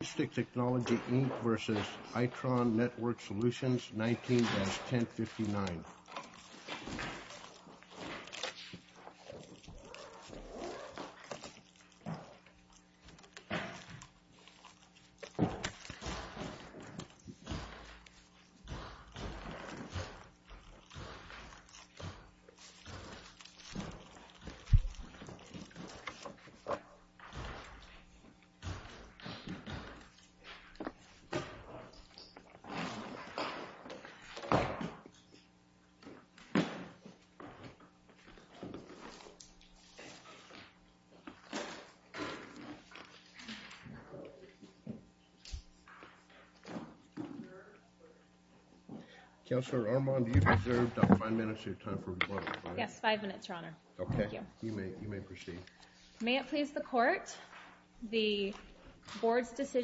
Coustic Technology, Inc. v. Itron Networked Solutions, 19-1059.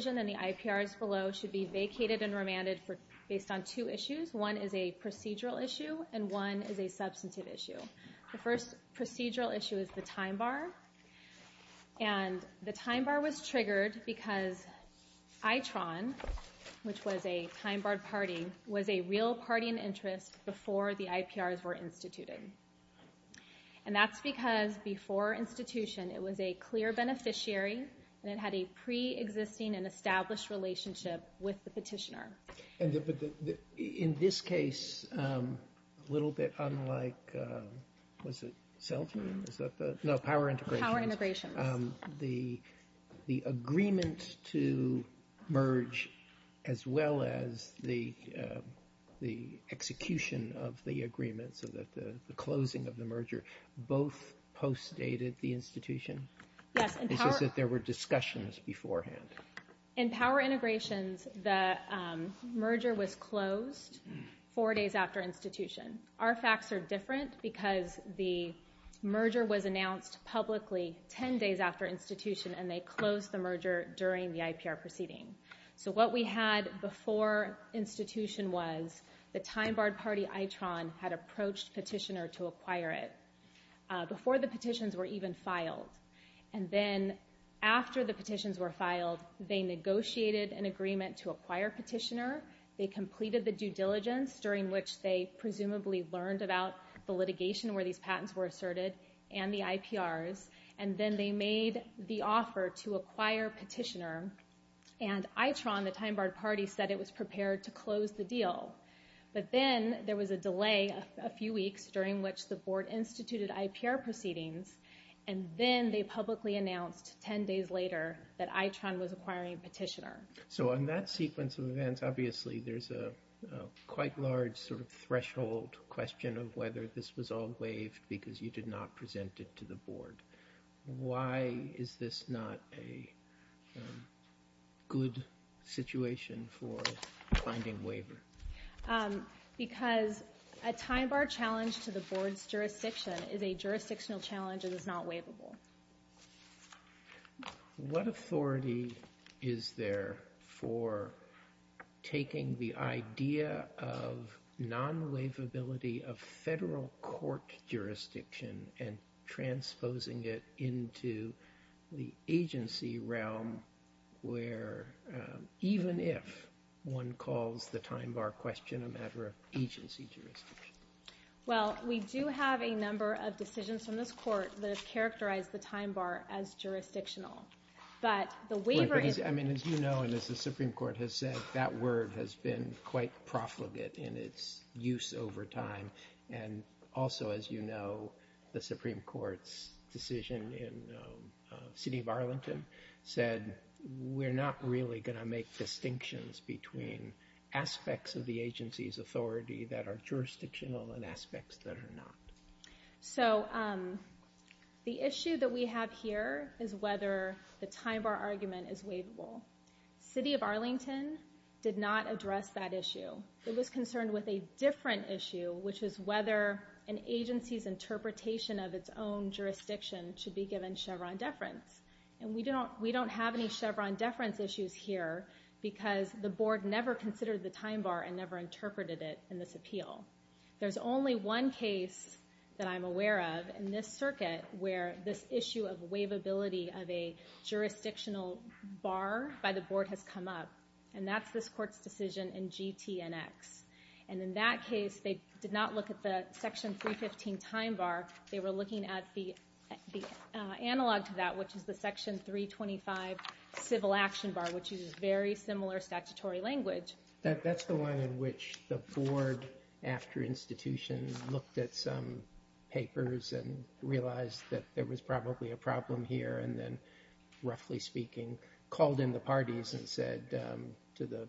and the IPRs below should be vacated and remanded based on two issues. One is a procedural issue and one is a substantive issue. The first procedural issue is the time bar. And the time bar was triggered because Itron, which was a time barred party, was a real party in interest before the IPRs were instituted. And that's because before institution it was a clear beneficiary and it had a pre-existing and established relationship with the petitioner. In this case, a little bit unlike, was it CELTA? No, Power Integrations. The agreement to merge as well as the execution of the agreement, so that the closing of the merger, both post-dated the institution? Yes. It's just that there were discussions beforehand. In Power Integrations, the merger was closed four days after institution. Our facts are different because the merger was announced publicly 10 days after institution and they closed the merger during the IPR proceeding. So what we had before institution was the time barred party Itron had approached petitioner to acquire it before the petitions were even filed. And then after the petitions were filed, they negotiated an agreement to acquire petitioner. They completed the due diligence during which they presumably learned about the litigation where these patents were asserted and the IPRs. And then they made the offer to acquire petitioner. And Itron, the time barred party, said it was prepared to close the deal. But then there was a delay a few weeks during which the board instituted IPR proceedings and then they publicly announced 10 days later that Itron was acquiring petitioner. So on that sequence of events, obviously there's a quite large sort of threshold question of whether this was all waived because you did not present it to the board. Why is this not a good situation for finding waiver? Because a time bar challenge to the board's jurisdiction is a jurisdictional challenge and is not waivable. What authority is there for taking the idea of non-waivability of federal court jurisdiction and transposing it into the agency realm where even if one calls the time bar question a waiver of agency jurisdiction? Well, we do have a number of decisions from this court that have characterized the time bar as jurisdictional. But the waiver is... I mean, as you know and as the Supreme Court has said, that word has been quite profligate in its use over time. And also, as you know, the Supreme Court's decision in the city of Arlington said we're not really going to make distinctions between aspects of the agency's authority that are jurisdictional and aspects that are not. So the issue that we have here is whether the time bar argument is waivable. City of Arlington did not address that issue. It was concerned with a different issue, which is whether an agency's interpretation of its own jurisdiction should be given Chevron deference. And we don't have any Chevron deference issues here because the board never considered the time bar and never interpreted it in this appeal. There's only one case that I'm aware of in this circuit where this issue of waivability of a jurisdictional bar by the board has come up, and that's this court's decision in GTNX. And in that case, they did not look at the section 315 time bar. They were looking at the analog to that, which is the section 325 civil action bar, which uses very similar statutory language. That's the one in which the board, after institution, looked at some papers and realized that there was probably a problem here, and then, roughly speaking, called in the parties and said to the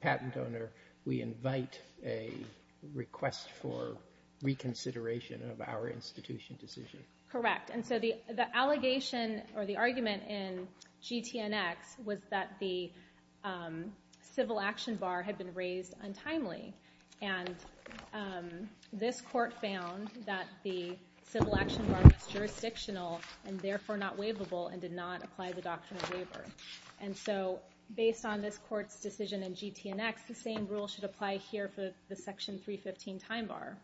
patent owner, we invite a request for reconsideration of our institution decision. Correct. And so the allegation or the argument in GTNX was that the civil action bar had been raised untimely. And this court found that the civil action bar was jurisdictional and therefore not waivable and did not apply the doctrine of waiver. And so based on this decision in GTNX, the same rule should apply here for the section 315 time bar.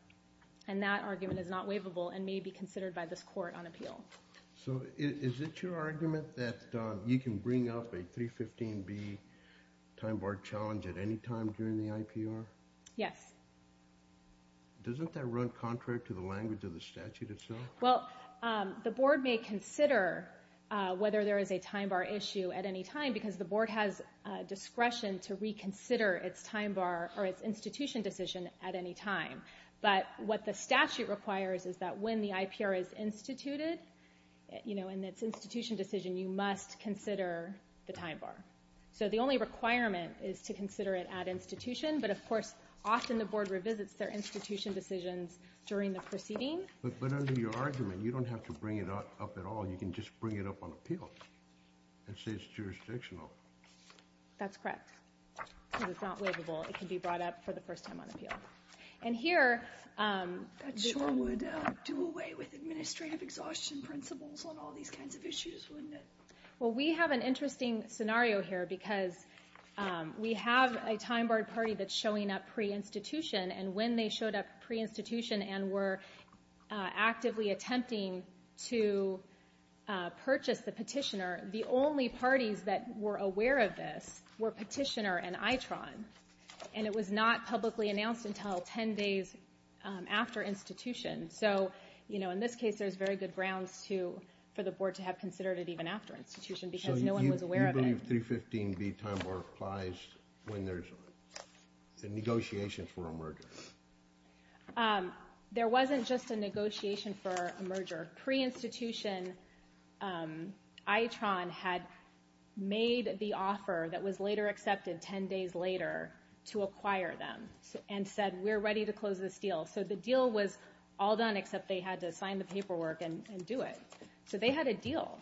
And that argument is not waivable and may be considered by this court on appeal. So is it your argument that you can bring up a 315B time bar challenge at any time during the IPR? Yes. Doesn't that run contrary to the language of the statute itself? Well, the board may consider whether there is a time bar issue at any time because the institution decision at any time. But what the statute requires is that when the IPR is instituted, in its institution decision, you must consider the time bar. So the only requirement is to consider it at institution, but of course, often the board revisits their institution decisions during the proceeding. But under your argument, you don't have to bring it up at all. You can just bring it up on appeal and say it's jurisdictional. That's correct. Because it's not waivable. It can be brought up for the first time on appeal. And here... That sure would do away with administrative exhaustion principles on all these kinds of issues, wouldn't it? Well, we have an interesting scenario here because we have a time bar party that's showing up pre-institution, and when they showed up pre-institution and were actively attempting to purchase the petitioner, the only parties that were aware of this were petitioner and ITRON. And it was not publicly announced until 10 days after institution. So, you know, in this case, there's very good grounds for the board to have considered it even after institution because no one was aware of it. So you believe 315B time bar applies when there's negotiations for a merger? There wasn't just a negotiation for a merger. Pre-institution, ITRON had made the offer that was later accepted 10 days later to acquire them and said, we're ready to close this deal. So the deal was all done except they had to sign the paperwork and do it. So they had a deal.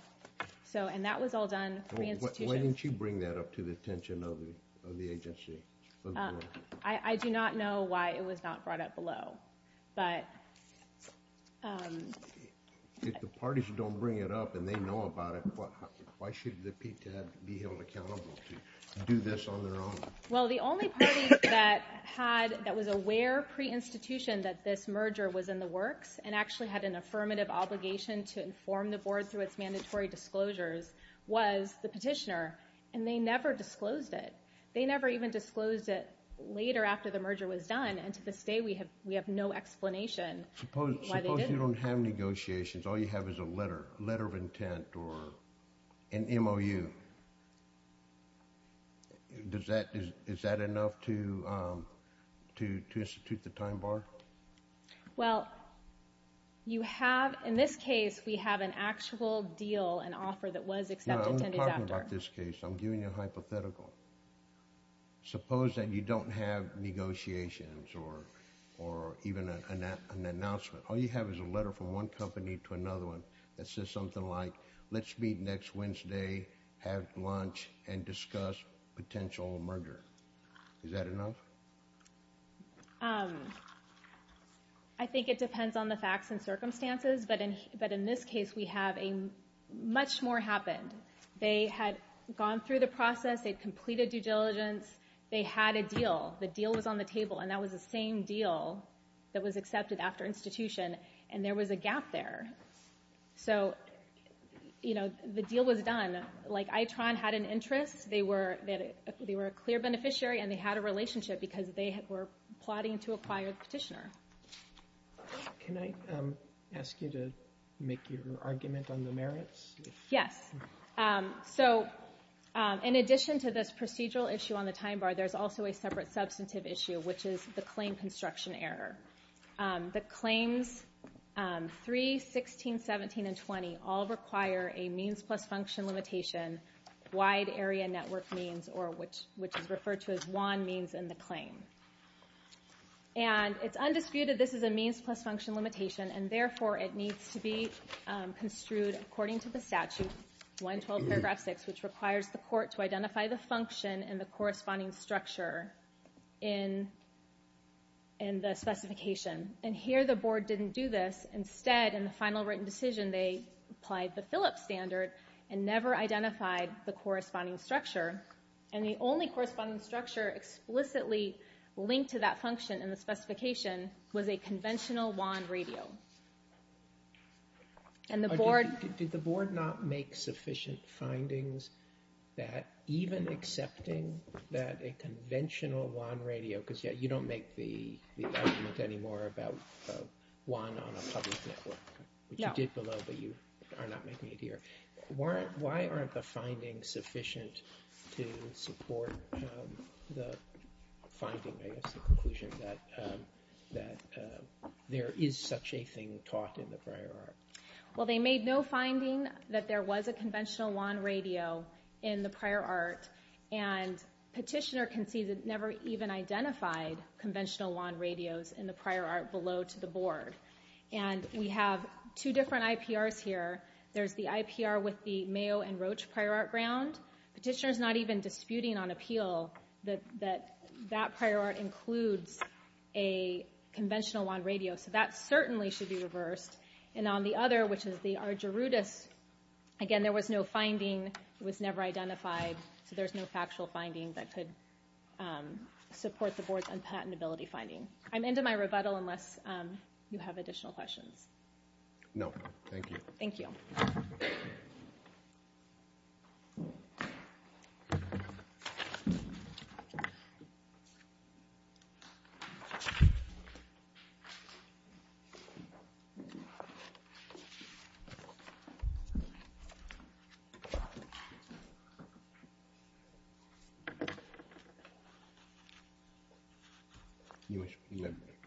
And that was all done pre-institution. Why didn't you bring that up to the attention of the agency? I do not know why it was not brought up below. If the parties don't bring it up and they know about it, why should the PTAB be held accountable to do this on their own? Well, the only party that was aware pre-institution that this merger was in the works and actually had an affirmative obligation to inform the board through its mandatory disclosures was the petitioner. And they never disclosed it. They never even disclosed it later after the merger was done. And to this day, we have no explanation why they didn't. Suppose you don't have negotiations. All you have is a letter of intent or an MOU. Is that enough to institute the time bar? Well, you have, in this case, we have an actual deal and offer that was accepted. No, I'm not talking about this case. I'm giving you a hypothetical. Suppose that you don't have negotiations or even an announcement. All you have is a letter from one company to another one that says something like, let's meet next Wednesday, have lunch, and discuss potential merger. Is that enough? I think it depends on the facts and circumstances, but in this case, we have much more happened. They had gone through the process. They'd completed due diligence. They had a deal. The deal was on the table, and that was the same deal that was accepted after institution. And there was a gap there. So, you know, the deal was done. Like, ITRON had an interest. They were a clear beneficiary, and they had a relationship because they were plotting to acquire the petitioner. Can I ask you to make your argument on the merits? Yes. So, in addition to this procedural issue on the time bar, there's also a separate substantive issue, which is the claim construction error. The claims 3, 16, 17, and 20 all require a means plus function limitation, wide area network means, which is referred to as WAN means in the claim. And it's undisputed this is a means plus function limitation, and therefore, it needs to be construed according to the statute, 112 paragraph 6, which requires the court to identify the function and the corresponding structure in the specification. And here, the board didn't do this. Instead, in the final written decision, they applied the Phillips standard and never identified the corresponding structure. And the only corresponding structure explicitly linked to that function in the specification was a conventional WAN radio. Did the board not make sufficient findings that even accepting that a conventional WAN radio, because you don't make the argument anymore about WAN on a public network, which you did below, but you are not making it here. Why aren't the findings sufficient to support the finding, I guess, the conclusion that there is such a thing taught in the prior art? Well, they made no finding that there was a conventional WAN radio in the prior art, and Petitioner concedes it never even identified conventional WAN radios in the prior art below to the board. And we have two different IPRs here. There's the IPR with the Mayo and Roche prior art ground. Petitioner's not even disputing on appeal that that prior art includes a conventional WAN radio. So that certainly should be reversed. And on the other, which is the Argerudas, again, there was no finding. It was never identified. So there's no factual finding that could support the board's unpatentability finding. I'm into my rebuttal unless you have additional questions. No. Thank you. Thank you. Thank you.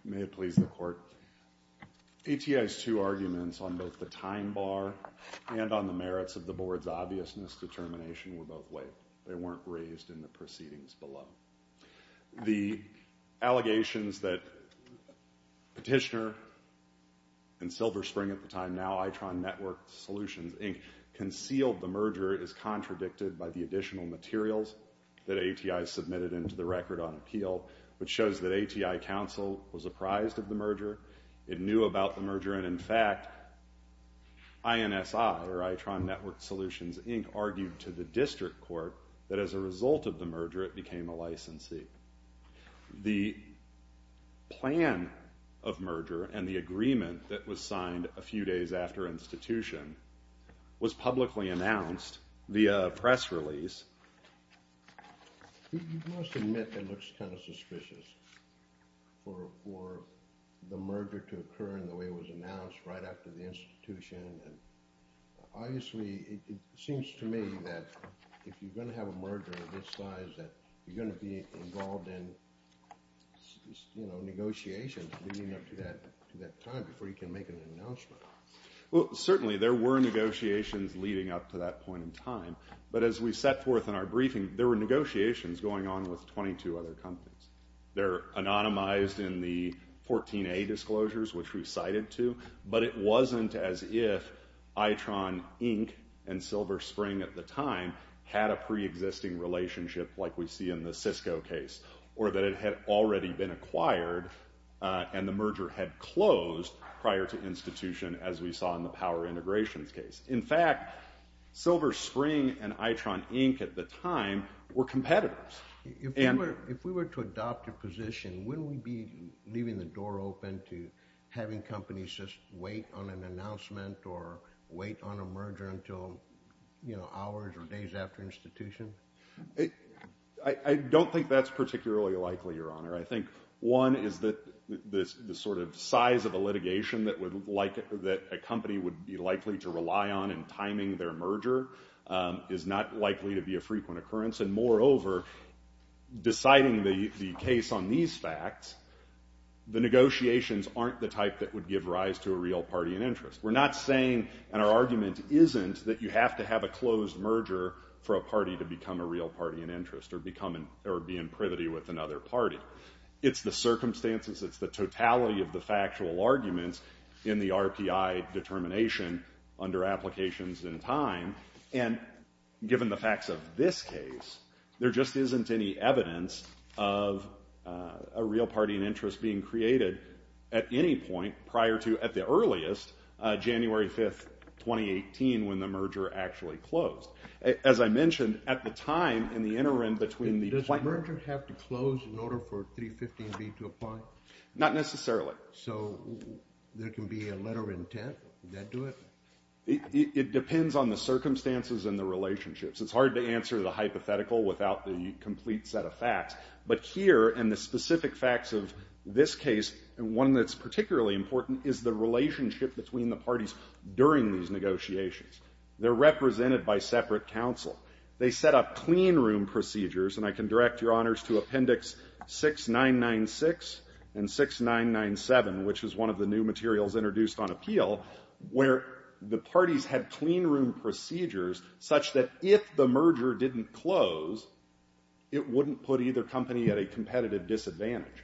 May it please the court. ATI's two arguments on both the time bar and on the merits of the board's obvious misdetermination were both waived. They weren't raised in the proceedings below. The allegations that Petitioner and Silver Spring at the time, now ITRON Network Solutions, Inc., concealed the merger is contradicted by the additional materials that ATI submitted into the record on appeal, which shows that ATI counsel was apprised of the merger. It knew about the merger. And, in fact, INSI, or ITRON Network Solutions, Inc., argued to the district court that as a result of the merger, it became a licensee. The plan of merger and the agreement that was signed a few days after institution was publicly announced via press release. You must admit it looks kind of suspicious for the merger to occur in the way it was announced right after the institution. And, obviously, it seems to me that if you're going to have a merger of this size, that you're going to be involved in negotiations leading up to that time before you can make an announcement. Well, certainly there were negotiations leading up to that point in time. But as we set forth in our briefing, there were negotiations going on with 22 other companies. They're anonymized in the 14A disclosures, which we cited to. But it wasn't as if ITRON, Inc. and Silver Spring at the time had a preexisting relationship like we see in the Cisco case, or that it had already been acquired and the merger had closed prior to institution as we saw in the power integrations case. In fact, Silver Spring and ITRON, Inc. at the time were competitors. If we were to adopt a position, wouldn't we be leaving the door open to having companies just wait on an announcement or wait on a merger until hours or days after institution? I don't think that's particularly likely, Your Honor. I think, one, is that the sort of size of a litigation that a company would be likely to rely on in timing their merger is not likely to be a frequent occurrence. And moreover, deciding the case on these facts, the negotiations aren't the type that would give rise to a real party in interest. We're not saying, and our argument isn't, that you have to have a closed merger for a party to become a real party in interest or be in privity with another party. It's the circumstances, it's the totality of the factual arguments in the RPI determination under applications in time. And given the facts of this case, there just isn't any evidence of a real party in interest being created at any point prior to, at the earliest, January 5, 2018, when the merger actually closed. As I mentioned, at the time, in the interim between the- Does the merger have to close in order for 315B to apply? Not necessarily. So there can be a letter of intent? Would that do it? It depends on the circumstances and the relationships. It's hard to answer the hypothetical without the complete set of facts. But here, in the specific facts of this case, one that's particularly important is the relationship between the parties during these negotiations. They're represented by separate counsel. They set up clean room procedures, and I can direct your honors to Appendix 6996 and 6997, which is one of the new materials introduced on appeal, where the parties had clean room procedures such that if the merger didn't close, it wouldn't put either company at a competitive disadvantage.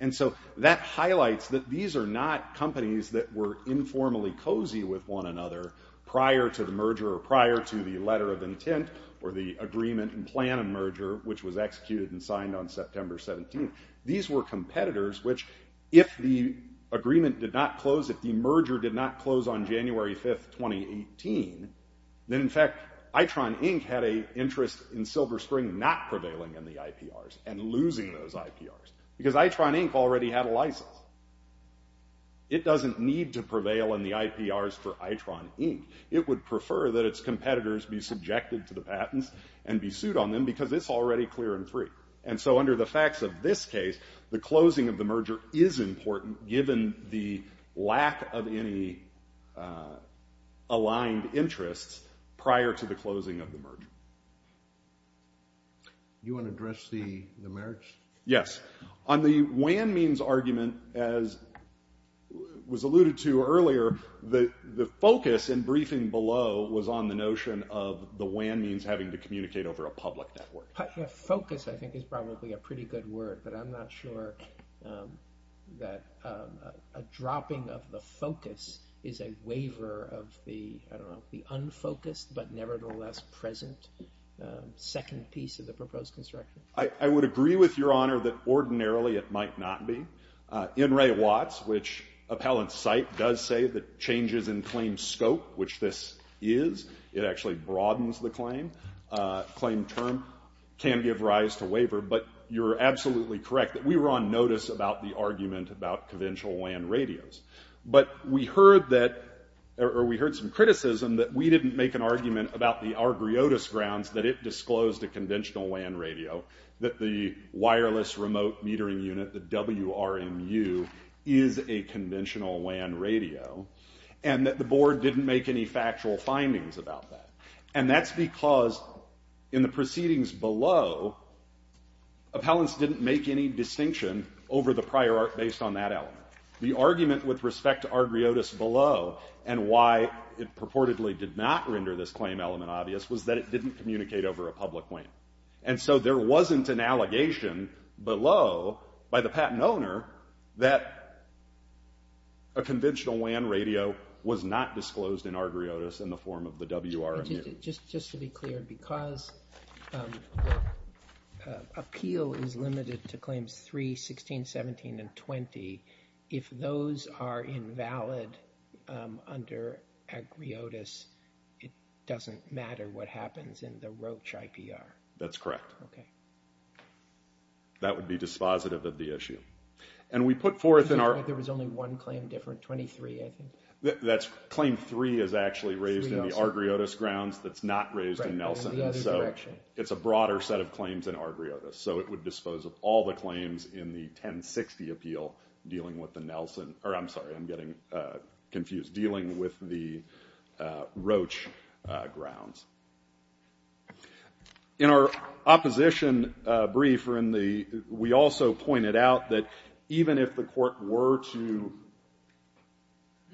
And so that highlights that these are not companies that were informally cozy with one another prior to the merger or prior to the letter of intent or the agreement and plan of merger, which was executed and signed on September 17. These were competitors which, if the agreement did not close, if the merger did not close on January 5, 2018, then, in fact, ITRON, Inc. had an interest in Silver Spring not prevailing in the IPRs and losing those IPRs because ITRON, Inc. already had a license. It doesn't need to prevail in the IPRs for ITRON, Inc. It would prefer that its competitors be subjected to the patents and be sued on them because it's already clear and free. And so under the facts of this case, the closing of the merger is important, given the lack of any aligned interests prior to the closing of the merger. You want to address the merits? Yes. On the WAN means argument, as was alluded to earlier, the focus in briefing below was on the notion of the WAN means having to communicate over a public network. Focus, I think, is probably a pretty good word, but I'm not sure that a dropping of the focus is a waiver of the, I don't know, the unfocused but nevertheless present second piece of the proposed construction. I would agree with Your Honor that ordinarily it might not be. In re Watts, which appellants cite, does say that changes in claim scope, which this is, it actually broadens the claim. Claim term can give rise to waiver. But you're absolutely correct that we were on notice about the argument about conventional WAN radios. But we heard some criticism that we didn't make an argument about the Argriotas grounds that it disclosed a conventional WAN radio, that the wireless remote metering unit, the WRMU, is a conventional WAN radio, and that the board didn't make any factual findings about that. And that's because in the proceedings below, appellants didn't make any distinction over the prior art based on that element. The argument with respect to Argriotas below, and why it purportedly did not render this claim element obvious, was that it didn't communicate over a public WAN. And so there wasn't an allegation below by the patent owner that a conventional WAN radio was not disclosed in Argriotas in the form of the WRMU. Just to be clear, because appeal is limited to claims 3, 16, 17, and 20, if those are invalid under Argriotas, it doesn't matter what happens in the Roche IPR? That's correct. Okay. That would be dispositive of the issue. And we put forth in our... There was only one claim different, 23, I think. That's claim 3 is actually raised in the Argriotas grounds that's not raised in Nelson. So it's a broader set of claims in Argriotas. So it would dispose of all the claims in the 1060 appeal dealing with the Nelson. Or I'm sorry, I'm getting confused. Dealing with the Roche grounds. In our opposition brief, we also pointed out that even if the court were to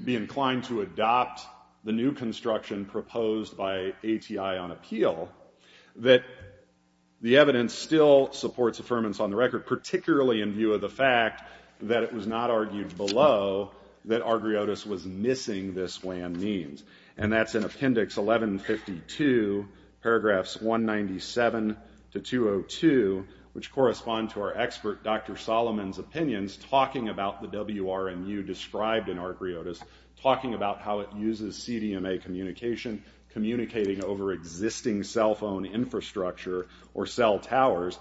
be inclined to adopt the new construction proposed by ATI on appeal, that the evidence still supports affirmance on the record, particularly in view of the fact that it was not argued below that Argriotas was missing this WAN means. And that's in appendix 1152, paragraphs 197 to 202, which correspond to our expert Dr. Solomon's opinions talking about the WRMU described in Argriotas, talking about how it uses CDMA communication, communicating over existing cell phone infrastructure or cell towers.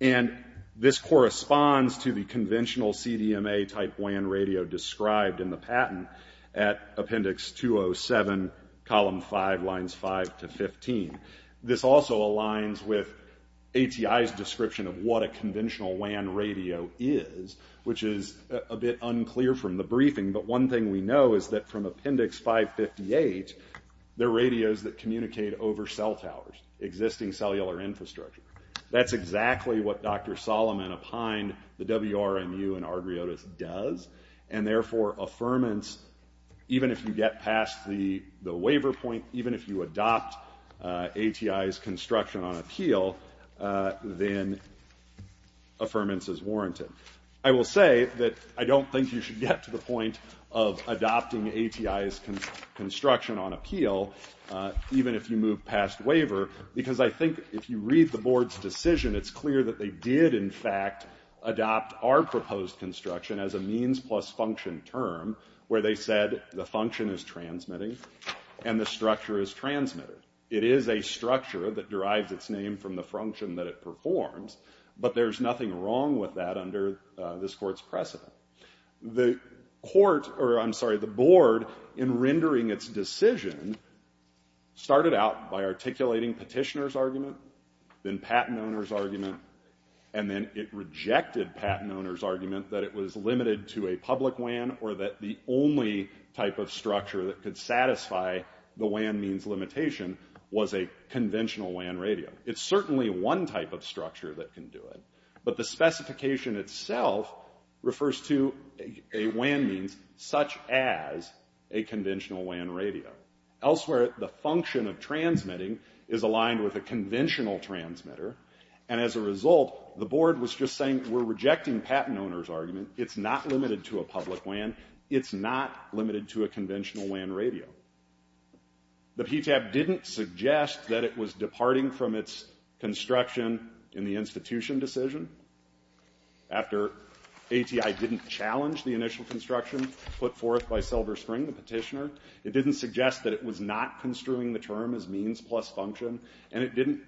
And this corresponds to the conventional CDMA type WAN radio described in the patent at appendix 207, column 5, lines 5 to 15. This also aligns with ATI's description of what a conventional WAN radio is, which is a bit unclear from the briefing. But one thing we know is that from appendix 558, they're radios that communicate over cell towers, existing cellular infrastructure. That's exactly what Dr. Solomon, behind the WRMU and Argriotas, does. And therefore, affirmance, even if you get past the waiver point, even if you adopt ATI's construction on appeal, then affirmance is warranted. I will say that I don't think you should get to the point of adopting ATI's construction on appeal, even if you move past waiver, because I think if you read the board's decision, it's clear that they did, in fact, adopt our proposed construction as a means plus function term, where they said the function is transmitting and the structure is transmitted. It is a structure that derives its name from the function that it performs, but there's nothing wrong with that under this court's precedent. The board, in rendering its decision, started out by articulating petitioner's argument, then patent owner's argument, and then it rejected patent owner's argument that it was limited to a public WAN or that the only type of structure that could satisfy the WAN means limitation was a conventional WAN radio. It's certainly one type of structure that can do it, but the specification itself refers to a WAN means such as a conventional WAN radio. Elsewhere, the function of transmitting is aligned with a conventional transmitter, and as a result, the board was just saying, we're rejecting patent owner's argument, it's not limited to a public WAN, it's not limited to a conventional WAN radio. The PTAB didn't suggest that it was departing from its construction in the institution decision after ATI didn't challenge the initial construction put forth by Silver Spring, the petitioner. It didn't suggest that it was not construing the term as means plus function, and it didn't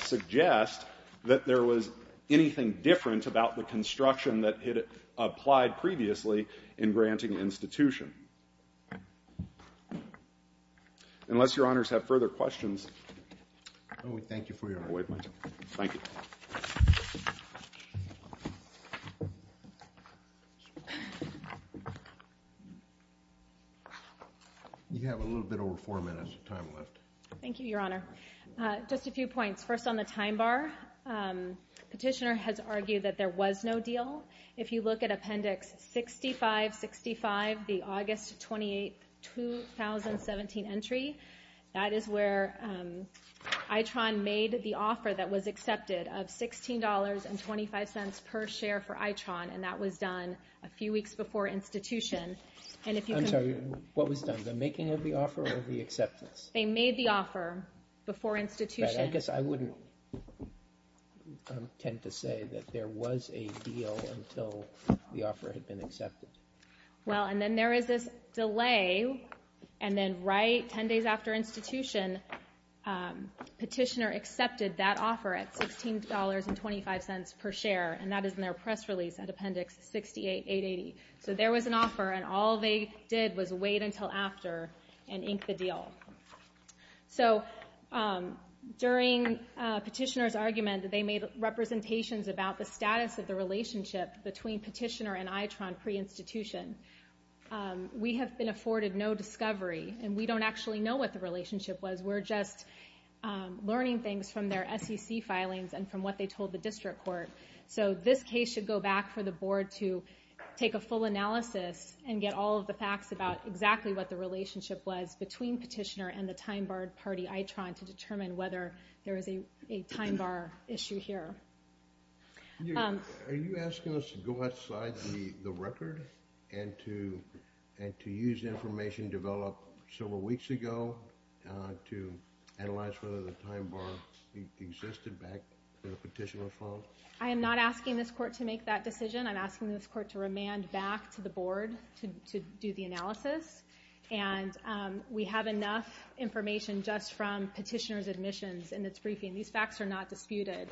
suggest that there was anything different about the construction that it applied previously in granting institution. Unless your honors have further questions. Thank you for your time. Thank you. You have a little bit over four minutes of time left. Thank you, your honor. Just a few points. First on the time bar, petitioner has argued that there was no deal. If you look at appendix 6565, the August 28, 2017 entry, that is where ITRON made the offer that was accepted of $16.25 per share for ITRON, and that was done a few weeks before institution. I'm sorry, what was done? The making of the offer or the acceptance? They made the offer before institution. I guess I wouldn't tend to say that there was a deal until the offer had been accepted. Well, and then there is this delay, and then right 10 days after institution, petitioner accepted that offer at $16.25 per share, and that is in their press release at appendix 68880. So there was an offer, and all they did was wait until after and ink the deal. So during petitioner's argument, they made representations about the status of the relationship between petitioner and ITRON pre-institution. We have been afforded no discovery, and we don't actually know what the relationship was. We're just learning things from their SEC filings and from what they told the district court. So this case should go back for the board to take a full analysis and get all of the facts about exactly what the relationship was between petitioner and the time-barred party ITRON to determine whether there is a time-bar issue here. Are you asking us to go outside the record and to use information developed several weeks ago to analyze whether the time-bar existed back in the petitioner file? I am not asking this court to make that decision. I'm asking this court to remand back to the board to do the analysis, and we have enough information just from petitioner's admissions and its briefing. These facts are not disputed.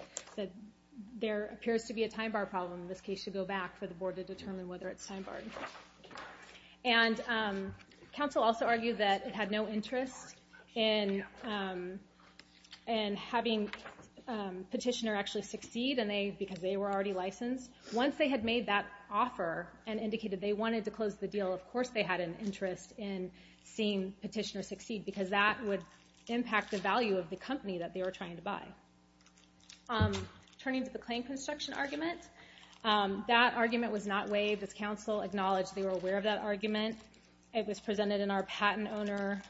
There appears to be a time-bar problem. This case should go back for the board to determine whether it's time-barred. And counsel also argued that it had no interest in having petitioner actually succeed, because they were already licensed. Once they had made that offer and indicated they wanted to close the deal, of course they had an interest in seeing petitioner succeed, because that would impact the value of the company that they were trying to buy. Turning to the claim construction argument, that argument was not waived. As counsel acknowledged, they were aware of that argument. It was presented in our patent owner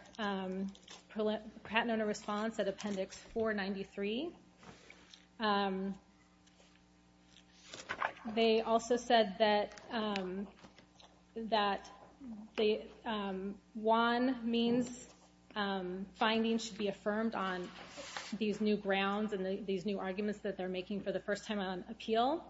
response at Appendix 493. They also said that one means findings should be affirmed on these new grounds and these new arguments that they're making for the first time on appeal.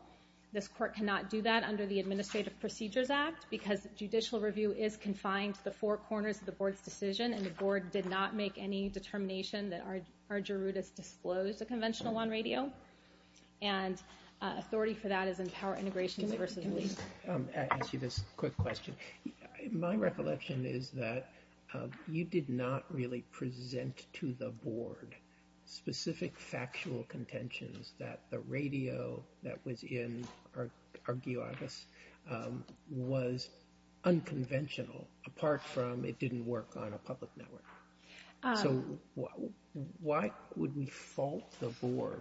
This court cannot do that under the Administrative Procedures Act, because judicial review is confined to the four corners of the board's decision, and the board did not make any determination that Argerudas disclosed a conventional on radio, and authority for that is in Power Integrations v. Lee. Can I ask you this quick question? My recollection is that you did not really present to the board specific factual contentions that the radio that was in Argeardas was unconventional, apart from it didn't work on a public network. So why would we fault the board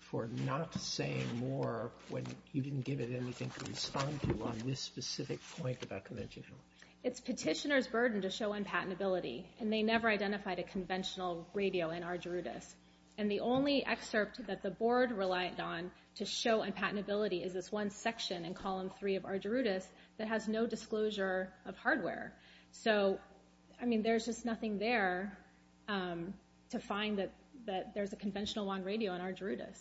for not saying more when you didn't give it anything to respond to on this specific point about conventional? It's petitioner's burden to show unpatentability, and they never identified a conventional radio in Argerudas. And the only excerpt that the board relied on to show unpatentability is this one section in Column 3 of Argerudas that has no disclosure of hardware. So, I mean, there's just nothing there to find that there's a conventional on radio in Argerudas.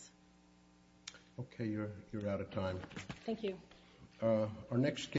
Okay, you're out of time. Thank you.